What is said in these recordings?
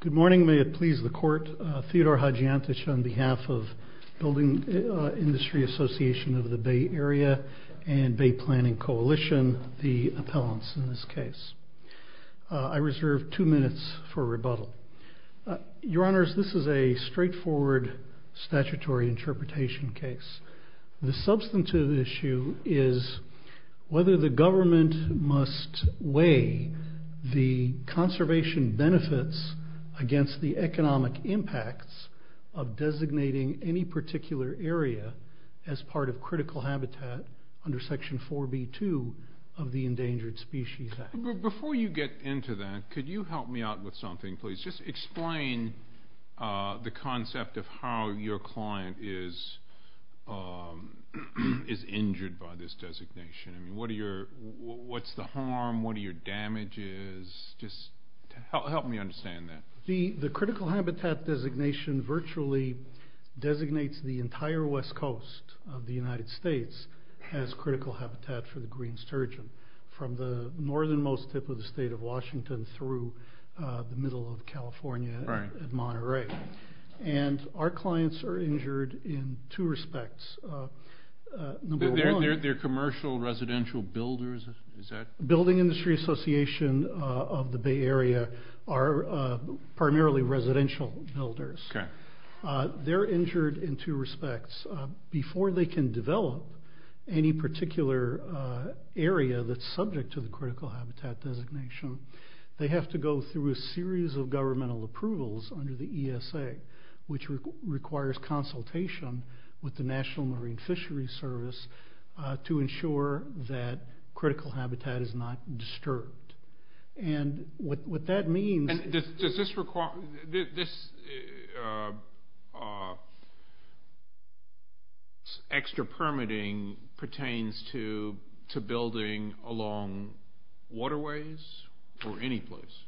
Good morning. May it please the Court, Theodore Hadjiantich on behalf of Building Industry Association of the Bay Area and Bay Planning Coalition, the appellants in this case. I reserve two minutes for rebuttal. Your Honors, this is a straightforward statutory interpretation case. The substantive issue is whether the government must weigh the conservation benefits against the economic impacts of designating any particular area as part of critical habitat under Section 4B2 of the Endangered Species Act. Before you get into that, could you help me out with something, please? Just explain the concept of how your client is injured by this designation. What's the harm? What are your damages? Just help me understand that. The critical habitat designation virtually designates the entire west coast of the United States as critical habitat for the green sturgeon. From the northernmost tip of the state of California to the middle of California at Monterey. Our clients are injured in two respects. They're commercial residential builders? Building Industry Association of the Bay Area are primarily residential builders. They're injured in two respects. Before they can develop any particular area that's subject to the critical habitat designation, they have to go through a series of governmental approvals under the ESA, which requires consultation with the National Marine Fishery Service to ensure that critical habitat is not disturbed. What that means- This extra permitting pertains to building along waterways or any place?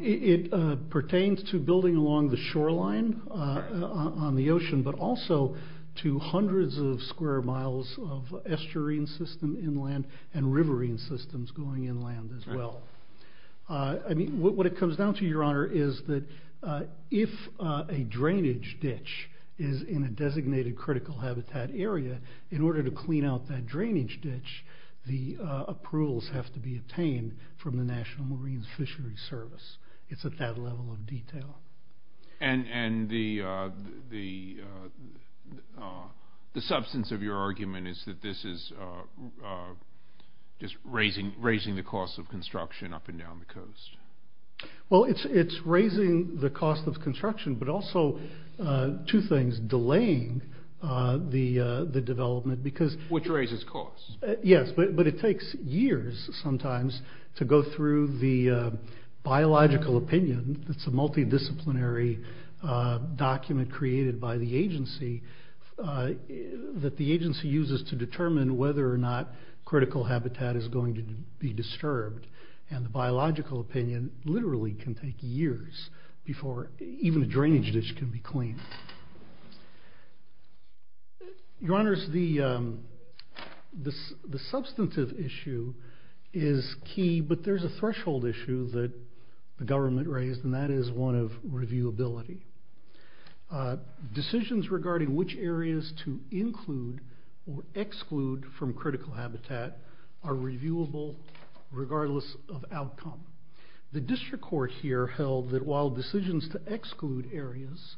It pertains to building along the shoreline on the ocean, but also to hundreds of square miles of estuarine system inland and riverine systems going inland as well. What it comes down to, is that if a drainage ditch is in a designated critical habitat area, in order to clean out that drainage ditch, the approvals have to be obtained from the National Marine Fishery Service. It's at that level of detail. The substance of your argument is that this is just raising the cost of construction up and down the coast? It's raising the cost of construction, but also two things, delaying the development. Which raises costs? Yes, but it takes years sometimes to go through the biological opinion. It's a multidisciplinary document created by the agency that the agency uses to determine whether or not critical habitat is going to be disturbed. The biological opinion literally can take years before even a drainage ditch can be cleaned. Your honors, the substantive issue is key, but there's a threshold issue that the government raised, and that is one of reviewability. Decisions regarding which areas to include or exclude from critical habitat are reviewable regardless of outcome. The district court here held that while decisions to exclude areas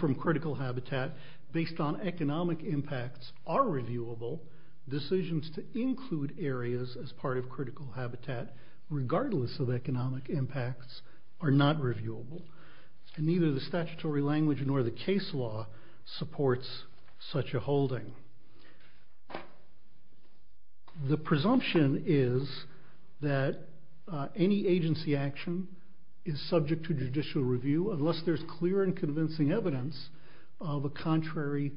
from critical habitat based on economic impacts are reviewable, decisions to include areas as part of critical habitat, regardless of economic impacts, are not reviewable, and neither the statutory language nor the case law supports such a holding. The presumption is that any agency action is subject to judicial review unless there's clear and convincing evidence of a contrary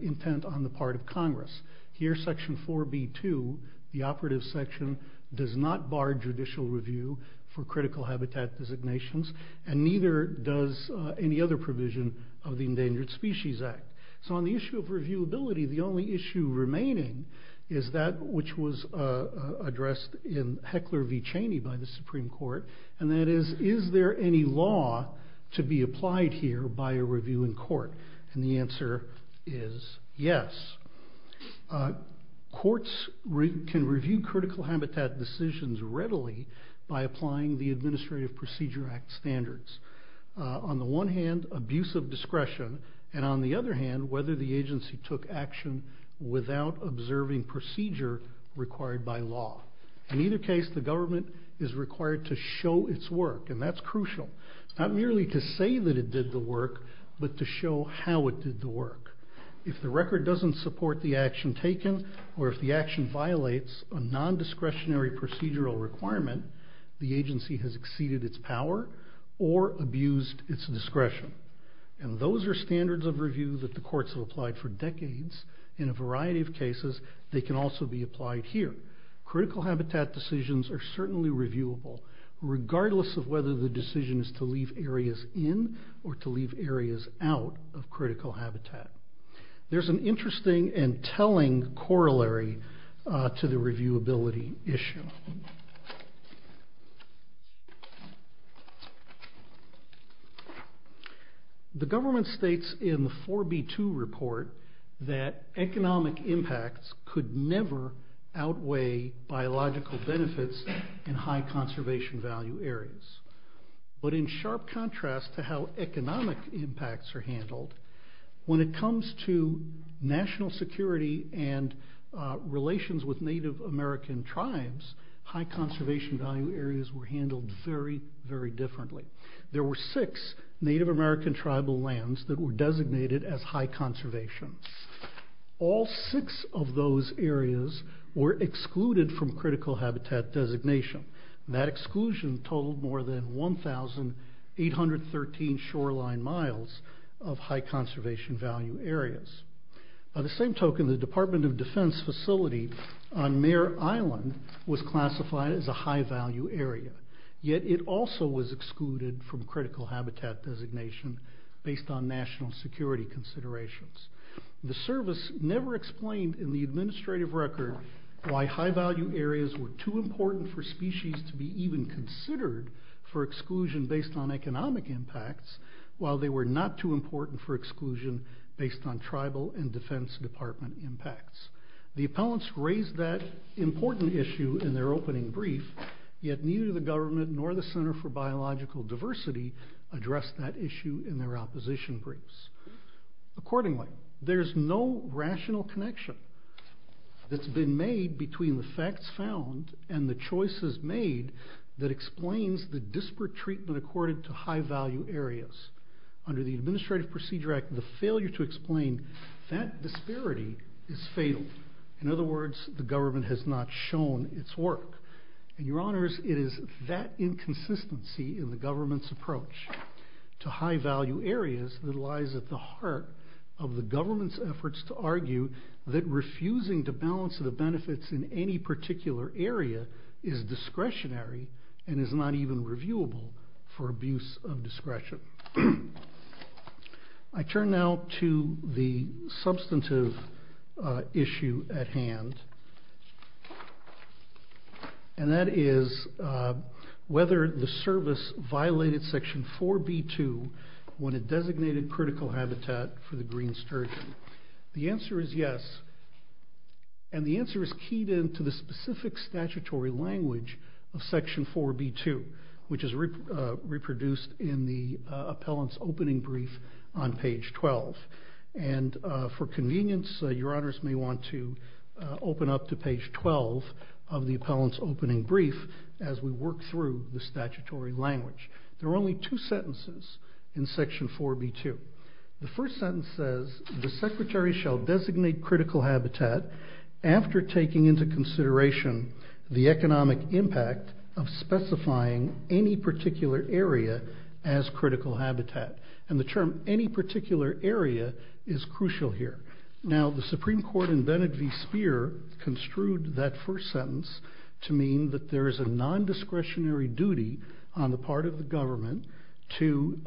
intent on the part of Congress. Here, section 4B2, the operative section, does not bar judicial review for critical habitat designations, and neither does any other provision of the Endangered Species Act. So on the issue of reviewability, the only issue remaining is that which was addressed in Heckler v. Cheney by the Supreme Court, and that is, is there any law to be applied here by reviewing court, and the answer is yes. Courts can review critical habitat decisions readily by applying the Administrative Procedure Act standards. On the one hand, abuse of discretion, and on the other hand, whether the agency took action without observing procedure required by law. In either case, the government is required to show its work, and that's crucial. Not merely to say that it did the work, but to show how it did the work. If the record doesn't support the action taken, or if the action violates a non-discretionary procedural requirement, the agency has exceeded its power or abused its discretion, and those are standards of review that the courts have applied for decades. In a variety of cases, they can also be applied here. Critical habitat decisions are certainly reviewable, regardless of whether the decision is to leave areas in, or to leave areas out of critical habitat. There's an interesting and telling corollary to the reviewability issue. The government states in the 4B2 report that economic impacts could never outweigh biological benefits in high conservation value areas, but in sharp contrast to how economic impacts are handled, when it comes to national security and relations with Native American tribes, high conservation value areas were handled very, very differently. There were six Native American tribal lands that were designated as high conservation. All six of those areas were excluded from critical habitat designation. That exclusion totaled more than 1,813 shoreline miles of high conservation value areas. By the same token, the Department of Defense facility on Mare Island was classified as a high value area, yet it also was excluded from critical habitat designation based on national security considerations. The service never explained in the administrative record why high value areas were too important for species to be even considered for exclusion based on economic impacts, while they were not too important for exclusion based on tribal and Defense Department impacts. The appellants raised that important issue in their opening brief, yet neither the government nor the Center for Biological Diversity addressed that issue in their opposition briefs. Accordingly, there's no rational connection that's been made between the facts found and the choices made that explains the disparate treatment accorded to high value areas. Under the Administrative Procedure Act, the failure to explain that disparity is fatal. In other words, the government has not shown its work. Your honors, it is that inconsistency in the government's to high value areas that lies at the heart of the government's efforts to argue that refusing to balance the benefits in any particular area is discretionary and is not even reviewable for abuse of discretion. I turn now to the substantive issue at hand, and that is whether the service violated Section 4b-2 when it designated critical habitat for the green sturgeon. The answer is yes, and the answer is keyed into the specific statutory language of Section 4b-2, which is reproduced in the appellant's opening brief on page 12. For convenience, your honors may want to open up to page 12 of the appellant's opening brief as we work through the statutory language. There are only two sentences in Section 4b-2. The first sentence says, the secretary shall designate critical habitat after taking into consideration the economic impact of specifying any particular area as critical habitat, and the term any particular area is crucial here. Now the Supreme Court in Bennett v. Speer construed that first sentence to mean that there is a non-discretionary duty on the part of the government to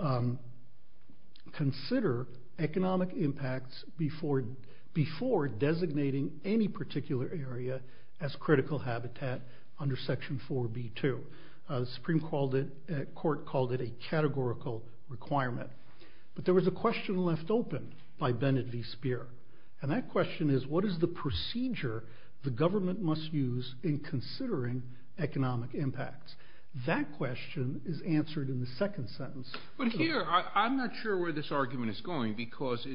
consider economic impacts before designating any particular area as critical requirement. But there was a question left open by Bennett v. Speer, and that question is, what is the procedure the government must use in considering economic impacts? That question is answered in the second sentence. But here, I'm not sure where this argument is going because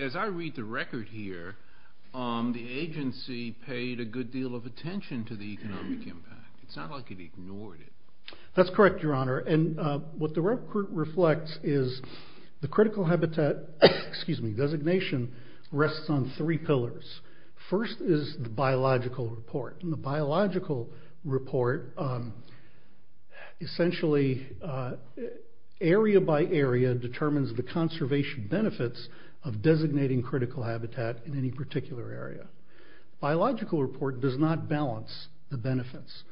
as I read the record here, the agency paid a good deal of attention to the economic impact. It's not like it ignored it. That's correct, your honor. And what the record reflects is the critical habitat designation rests on three pillars. First is the biological report. In the biological report, essentially area by area determines the conservation benefits of designating critical habitat in any particular area. Biological report does not balance the benefits.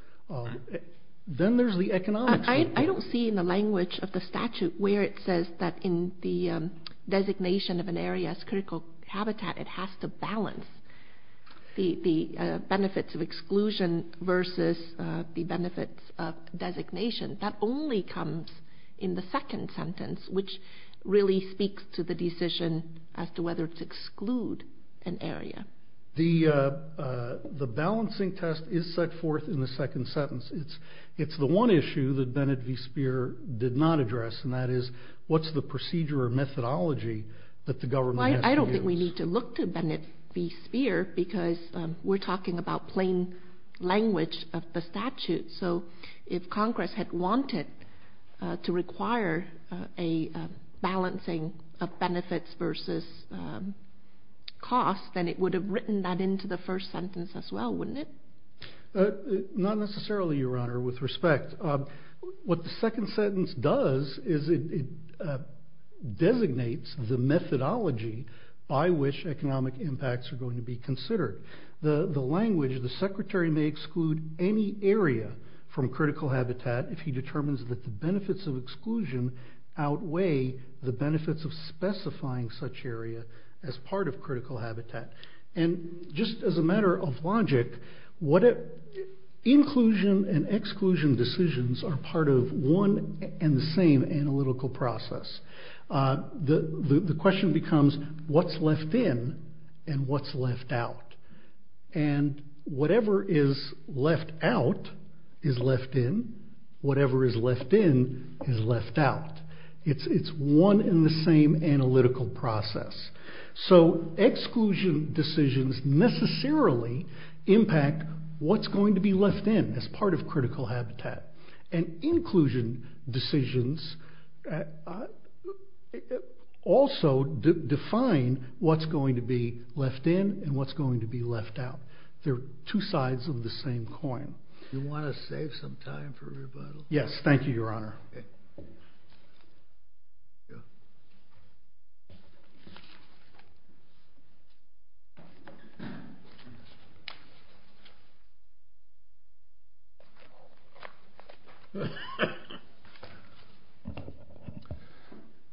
Then there's the economic report. I don't see in the language of the statute where it says that in the designation of an area as critical habitat, it has to balance the benefits of exclusion versus the benefits of designation. That only comes in the second sentence, which really speaks to the decision as to whether to exclude an area. The balancing test is set forth in the second sentence. It's the one issue that Bennett v. Speer did not address, and that is, what's the procedure or methodology that the government has to use? I don't think we need to look to Bennett v. Speer because we're talking about plain language of the statute. So if balancing of benefits versus cost, then it would have written that into the first sentence as well, wouldn't it? Not necessarily, your honor, with respect. What the second sentence does is it designates the methodology by which economic impacts are going to be considered. The language, the secretary may exclude any area from critical habitat if he determines that the benefits of specifying such area as part of critical habitat. Just as a matter of logic, inclusion and exclusion decisions are part of one and the same analytical process. The question becomes, what's left in and what's left out? Whatever is left out is left in. Whatever is left in is left out. It's one and the same analytical process. So exclusion decisions necessarily impact what's going to be left in as part of critical habitat. And inclusion decisions also define what's going to be left in and what's going to be left out. They're two sides of the same coin. You want to save some time for rebuttal? Yes, thank you, your honor.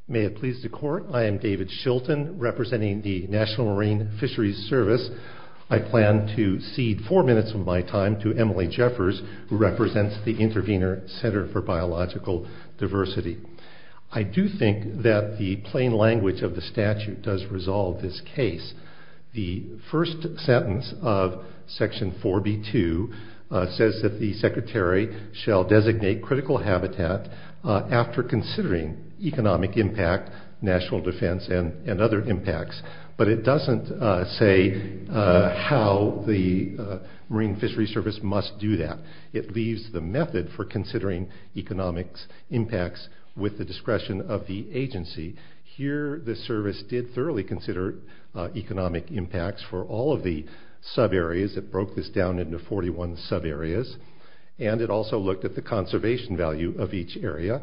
May it please the court, I am David Shilton representing the National Marine Fisheries Service. I plan to cede four minutes of my time to Emily Jeffers who represents the Intervenor Center for Biological Diversity. I do think that the plain language of the statute does resolve this case. The first sentence of section 4B2 says that the secretary shall designate critical habitat after considering economic impact, national defense, and other impacts. But it doesn't say how the Marine Fisheries Service must do that. It leaves the method for considering economic impacts with the discretion of the agency. Here the service did thoroughly consider economic impacts for all of the sub areas. It broke this down into 41 sub areas. And it also looked at the conservation value of each area.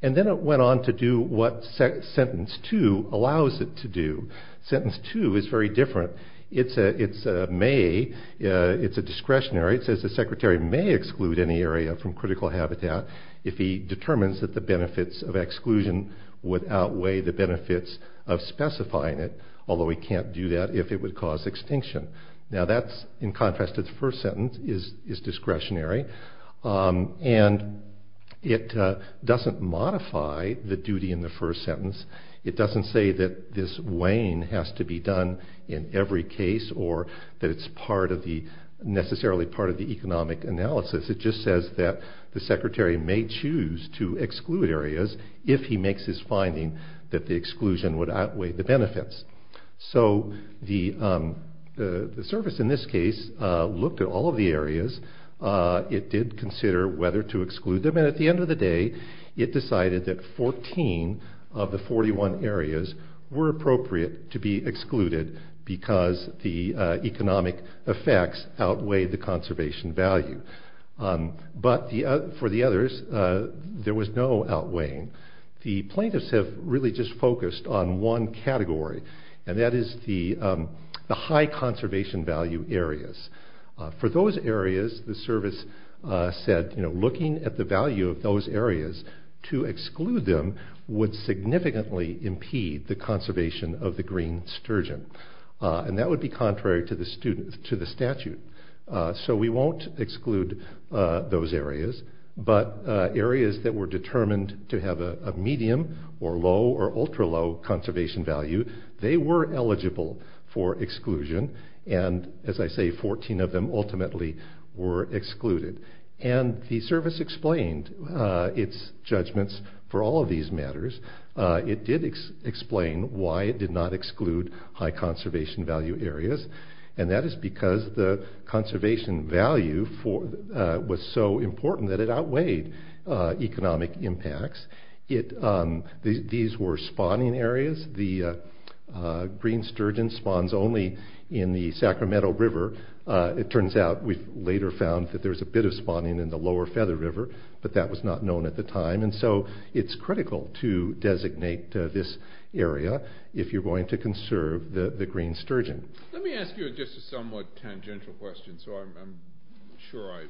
And then it went on to do what sentence 2 allows it to do. Sentence 2 is very different. It's a discretionary. It says the secretary may exclude any area from critical habitat if he determines that the benefits of exclusion would outweigh the benefits of specifying it, although he can't do that if it would cause extinction. Now that's in contrast to the first sentence is discretionary. And it doesn't modify the duty in the first sentence. It doesn't say that this weighing has to be done in every case or that it's necessarily part of the economic analysis. It just says that the secretary may choose to exclude areas if he makes his finding that the exclusion would outweigh the benefits. So the service in this case looked at all of the areas. It did consider whether to exclude them. And at the end of the day, it decided that 14 of the 41 areas were appropriate to be excluded because the economic effects outweighed the conservation value. But for the others, there was no outweighing. The plaintiffs have really just focused on one category. And that is the high conservation value areas. For those areas, the service said looking at the value of those areas to exclude them would significantly impede the conservation of the green sturgeon. And that would be contrary to the statute. So we won't exclude those areas. But areas that were determined to have a medium or low or ultra low conservation value, they were eligible for exclusion. And as I say, 14 of them ultimately were excluded. And the service explained its judgments for all of these matters. It did explain why it did not exclude high conservation value areas. And that is because the conservation value was so important that it outweighed economic impacts. These were spawning areas. The green sturgeon spawns only in the Sacramento River. It turns out we later found that there was a bit of spawning in the Lower Feather River, but that was not known at the time. And so it's critical to designate this area if you're going to conserve the green sturgeon. Let me ask you just a somewhat tangential question. So I'm sure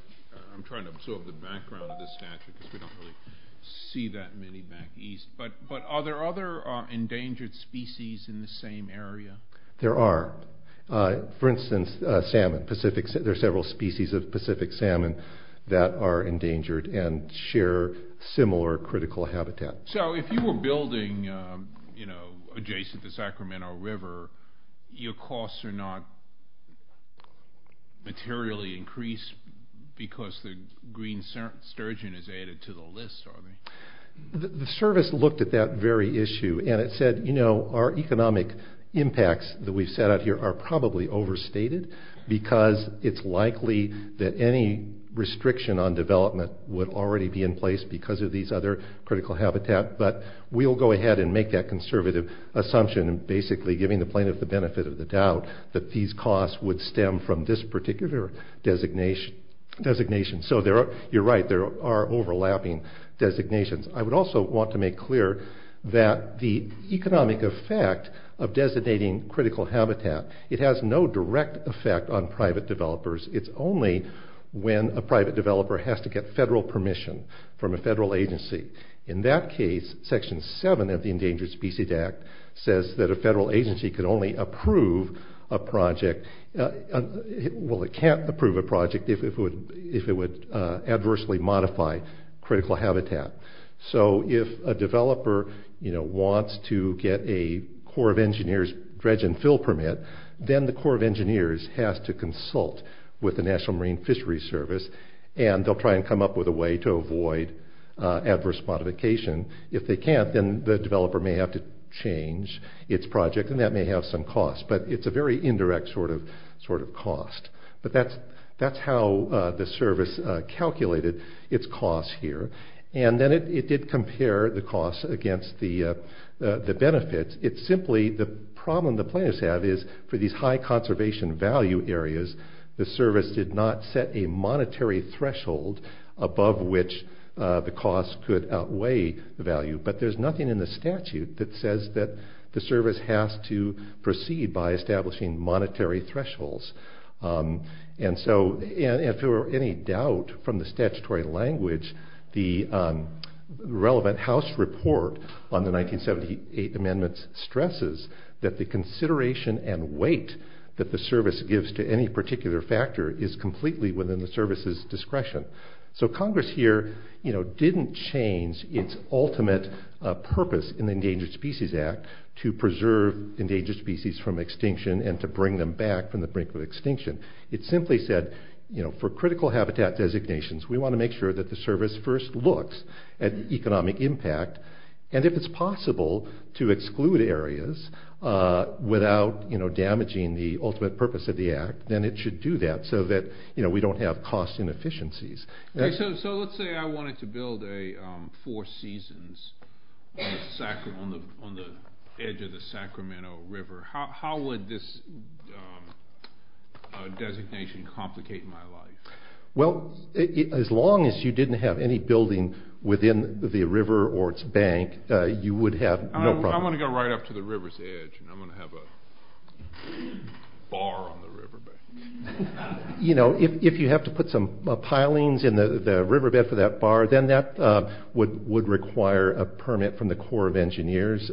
I'm trying to absorb the background of the statute because we don't really see that many back east. But are there other endangered species in the same area? There are. For instance, salmon. There's several species of Pacific salmon that are endangered and share similar critical habitat. So if you were building adjacent to the Sacramento River, your costs are not materially increased because green sturgeon is added to the list? The service looked at that very issue and it said, you know, our economic impacts that we've set out here are probably overstated because it's likely that any restriction on development would already be in place because of these other critical habitat. But we'll go ahead and make that conservative assumption, basically giving the plaintiff the benefit of the doubt that these costs would stem from this particular designation. So you're right, there are overlapping designations. I would also want to make clear that the economic effect of designating critical habitat, it has no direct effect on private developers. It's only when a private developer has to get federal permission from a federal agency. In that case, section 7 of the Endangered Species Act says that a federal agency can only approve a project, well, it can't approve a project if it would adversely modify critical habitat. So if a developer, you know, wants to get a Corps of Engineers dredge and fill permit, then the Corps of Engineers has to consult with the National Marine Fisheries Service and they'll try and come up with a way to avoid adverse modification. If they can't, then the developer may have to change its project and that may have some cost. But it's a very indirect sort of cost. But that's how the service calculated its costs here. And then it did compare the costs against the benefits. It's simply the problem the plaintiffs have is for these high conservation value areas, the service did not set a monetary threshold above which the cost could outweigh the value. But there's nothing in the statute that says that the service has to proceed by establishing monetary thresholds. And so if there were any doubt from the statutory language, the relevant House report on the 1978 amendments stresses that the consideration and weight that the service gives to any particular factor is completely within the service's discretion. So Congress here, you know, didn't change its ultimate purpose in the Endangered Species Act to preserve endangered species from extinction and to bring them back from the brink of extinction. It simply said, you know, for critical habitat designations, we want to make sure that the service first looks at economic impact. And if it's possible to exclude areas without, you know, damaging the ultimate purpose of the act, then it should do that so that, you know, we don't have cost inefficiencies. So let's say I wanted to build a Four Seasons on the edge of the Sacramento River. How would this designation complicate my life? Well, as long as you didn't have any building within the river or its bank, you would have no problem. I want to go right up to the river's edge and I'm going to have a bar on the river. You know, if you have to put some pilings in the riverbed for that bar, then that would require a permit from the Corps of Engineers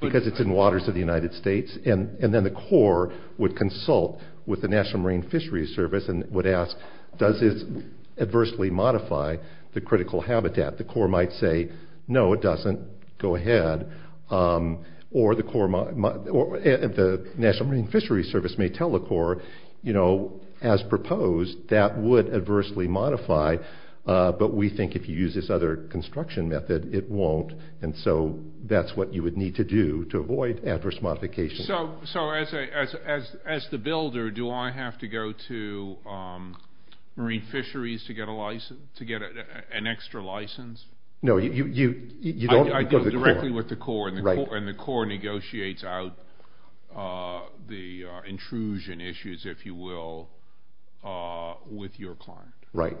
because it's in waters of the United States. And then the Corps would consult with the National Marine Fisheries Service and would ask, does this adversely modify the critical habitat? The Corps might say, no, it doesn't. Go ahead. Or the National Marine Fisheries Service may tell the Corps, you know, as proposed, that would adversely modify. But we think if you use this other construction method, it won't. And so that's what you would need to do to avoid adverse modifications. So as the builder, do I have to go to Marine Fisheries to get an extra license? No, you don't. I go directly with the Corps and the Corps negotiates out the intrusion issues, if you will, with your client. Right.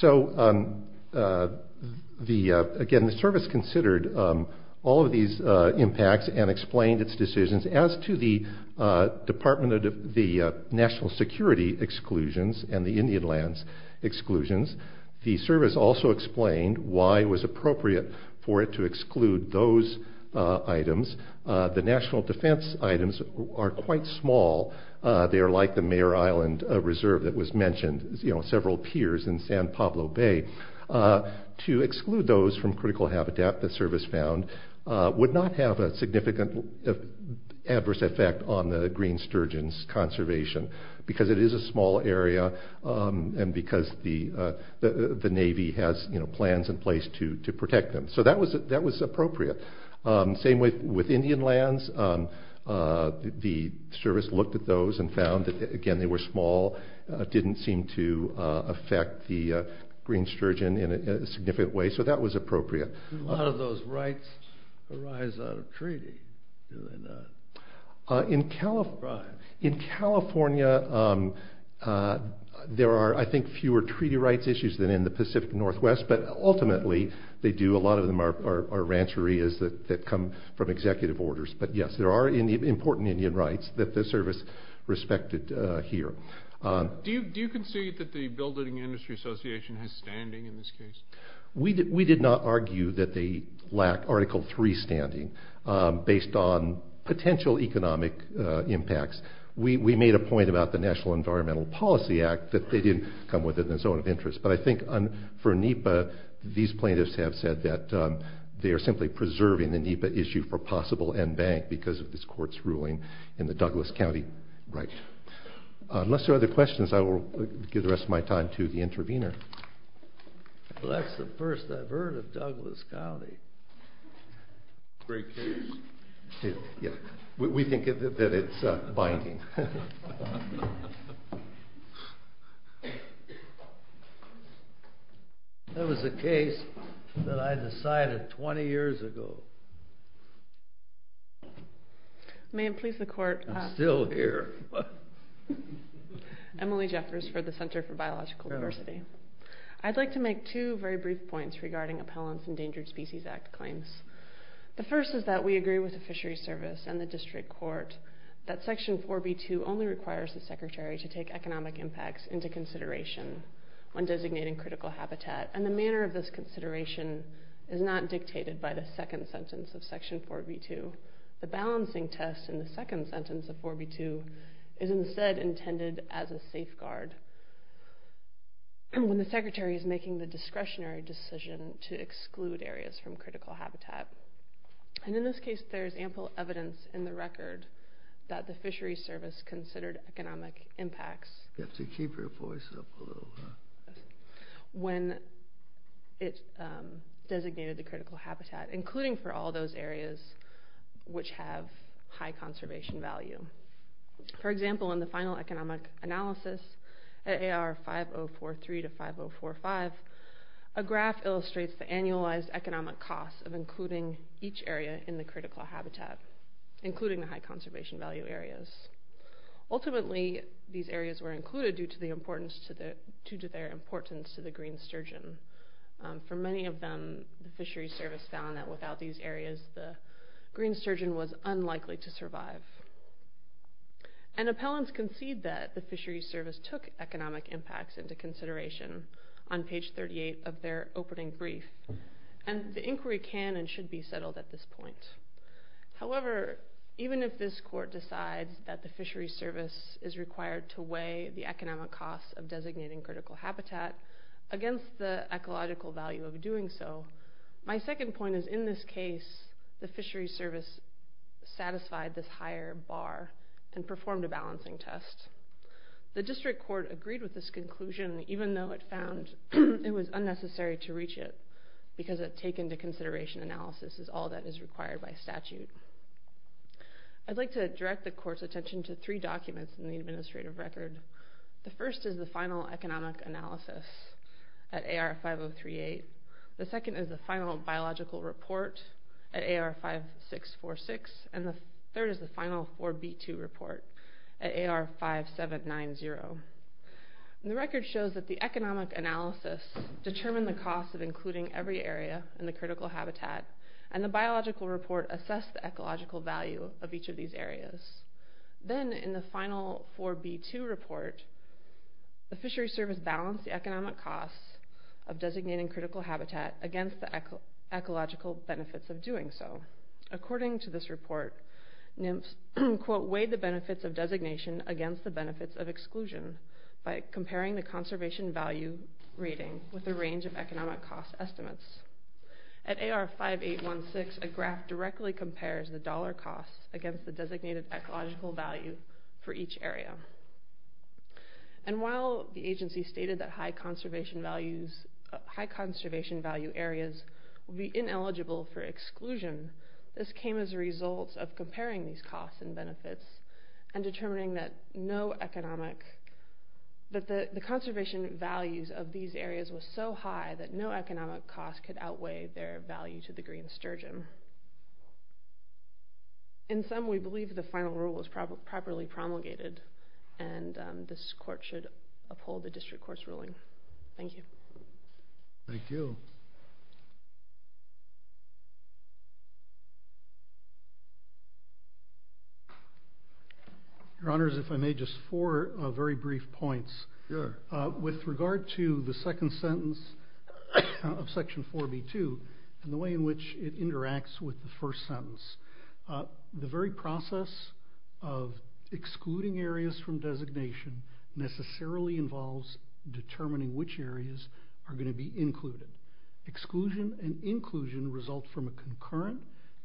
So, again, the service considered all of these impacts and explained its decisions. As to the Department of the National Security exclusions and the Indian lands exclusions, the service also explained why it was appropriate for it to exclude those items. The national defense items are quite small. They are like the Mayor Island Reserve that was mentioned, you know, several piers in San Pablo Bay. To exclude those from critical habitat, the service found, would not have a significant adverse effect on the green sturgeon's conservation because it is a small area and because the Navy has plans in place to protect them. So that was appropriate. Same way with Indian lands, the service looked at those and found that, again, they were small, didn't seem to affect the green sturgeon in a significant way. So that was appropriate. A lot of those rights arise out of treaty, do they not? In California, there are, I think, fewer treaty rights issues than in the Pacific Northwest, but ultimately they do. A lot of them are rancherias that come from executive orders. But, yes, there are important Indian rights that the service respected here. Do you concede that the Building Industry Association has standing in this case? We did not argue that they lack Article III standing based on potential economic impacts. We made a point about the National Environmental Policy Act that they didn't come within the zone of interest. But I think for NEPA, these plaintiffs have said that they are simply preserving the NEPA issue for possible end-bank because of this court's ruling in the Douglas County right. Unless there are other questions, I will give the rest of my time to the intervener. Well, that's the first I've heard of Douglas County. Great case. We think that it's binding. That was a case that I decided 20 years ago. May it please the court. I'm still here. Emily Jeffers for the Center for Biological Diversity. I'd like to make two very brief points regarding Appellant's Endangered Species Act claims. The first is that we agree with the Fishery Service and the District Court that Section 4B2 only requires the Secretary to make economic impacts into consideration when designating critical habitat. The manner of this consideration is not dictated by the second sentence of Section 4B2. The balancing test in the second sentence of 4B2 is instead intended as a safeguard when the Secretary is making the discretionary decision to exclude areas from critical habitat. In this case, there's ample evidence in the record that the Fishery Service considered economic impacts... You have to keep your voice up a little, huh? ...when it designated the critical habitat, including for all those areas which have high conservation value. For example, in the final economic analysis at AR 5043 to 5045, a graph illustrates the annualized economic costs of including each area in the critical habitat, including the high conservation value areas. Ultimately, these areas were included due to their importance to the green sturgeon. For many of them, the Fishery Service found that without these areas, the green sturgeon was unlikely to survive. Appellants concede that the Fishery Service took economic impacts into consideration on page 38 of their opening brief, and the inquiry can and should be settled at this point. However, even if this court decides that the Fishery Service is required to weigh the economic costs of designating critical habitat against the ecological value of doing so, my second point is in this case, the Fishery Service satisfied this higher bar and performed a balancing test. The district court agreed with this conclusion, even though it found it was unnecessary to reach it because a take into consideration analysis is all that is required by statute. I'd like to direct the court's attention to three documents in the administrative record. The first is the final economic analysis at AR 5038. The third is the final 4B2 report at AR 5790. The record shows that the economic analysis determined the cost of including every area in the critical habitat, and the biological report assessed the ecological value of each of these areas. Then, in the final 4B2 report, the Fishery Service balanced the economic costs of designating critical habitat against the ecological benefits of doing so. According to this report, NIMS, quote, weighed the benefits of designation against the benefits of exclusion by comparing the conservation value rating with a range of economic cost estimates. At AR 5816, a graph directly compares the dollar cost against the designated ecological value for each area. And while the agency stated that high conservation value areas would be ineligible for exclusion, this came as a result of comparing these costs and benefits and determining that the conservation values of these areas were so high that no economic cost could outweigh their value to the green sturgeon. In sum, we believe the final rule was properly promulgated, and this court should uphold the district court's ruling. Thank you. Thank you. Your Honors, if I may, just four very brief points. With regard to the second sentence of Section 4B2 and the way in which it interacts with the first sentence, the very process of are going to be included. Exclusion and inclusion result from a concurrent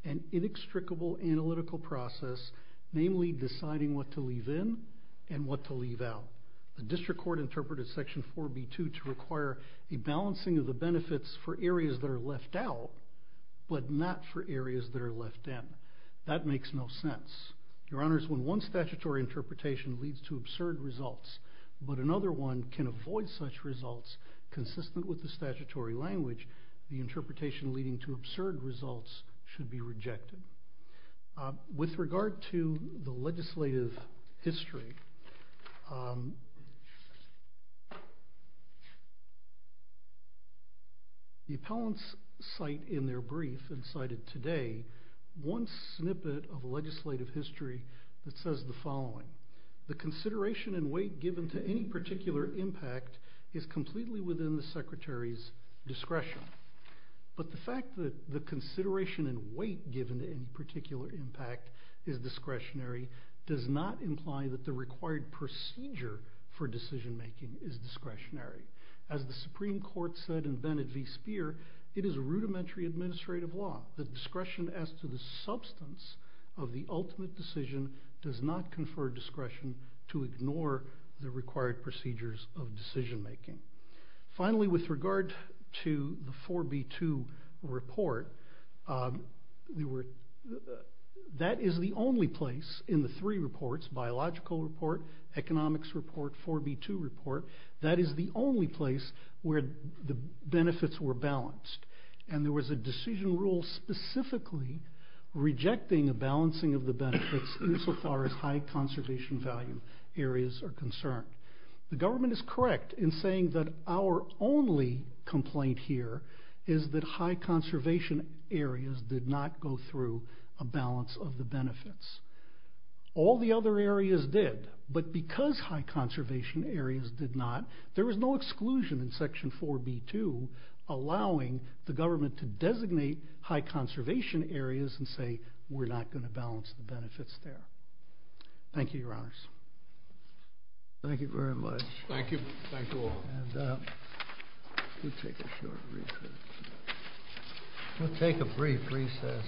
and inextricable analytical process, namely deciding what to leave in and what to leave out. The district court interpreted Section 4B2 to require a balancing of the benefits for areas that are left out, but not for areas that are left in. That makes no sense. Your Honors, when one statutory interpretation leads to absurd results, but another one can avoid such results consistent with the statutory language, the interpretation leading to absurd results should be rejected. With regard to the legislative history, the appellants cite in their brief and cited today one snippet of legislative history that the following. The consideration and weight given to any particular impact is completely within the Secretary's discretion. But the fact that the consideration and weight given to any particular impact is discretionary does not imply that the required procedure for decision making is discretionary. As the Supreme Court said in Bennett v. Speer, it is a rudimentary administrative law that discretion as to the substance of the ultimate decision does not confer discretion to ignore the required procedures of decision making. Finally, with regard to the 4B2 report, that is the only place in the three reports, biological report, economics report, 4B2 report, that is the only place where the benefits were balanced. And there was a decision rule specifically rejecting a balancing of the benefits insofar as high conservation value areas are concerned. The government is correct in saying that our only complaint here is that high conservation areas did not go through a balance of the benefits. All the other areas did, but because high conservation areas did not, there was no exclusion in section 4B2 allowing the government to designate high conservation areas and say we're not going to balance the benefits there. Thank you, Your Honors. Thank you very much. Thank you. Thank you all. We'll take a brief recess.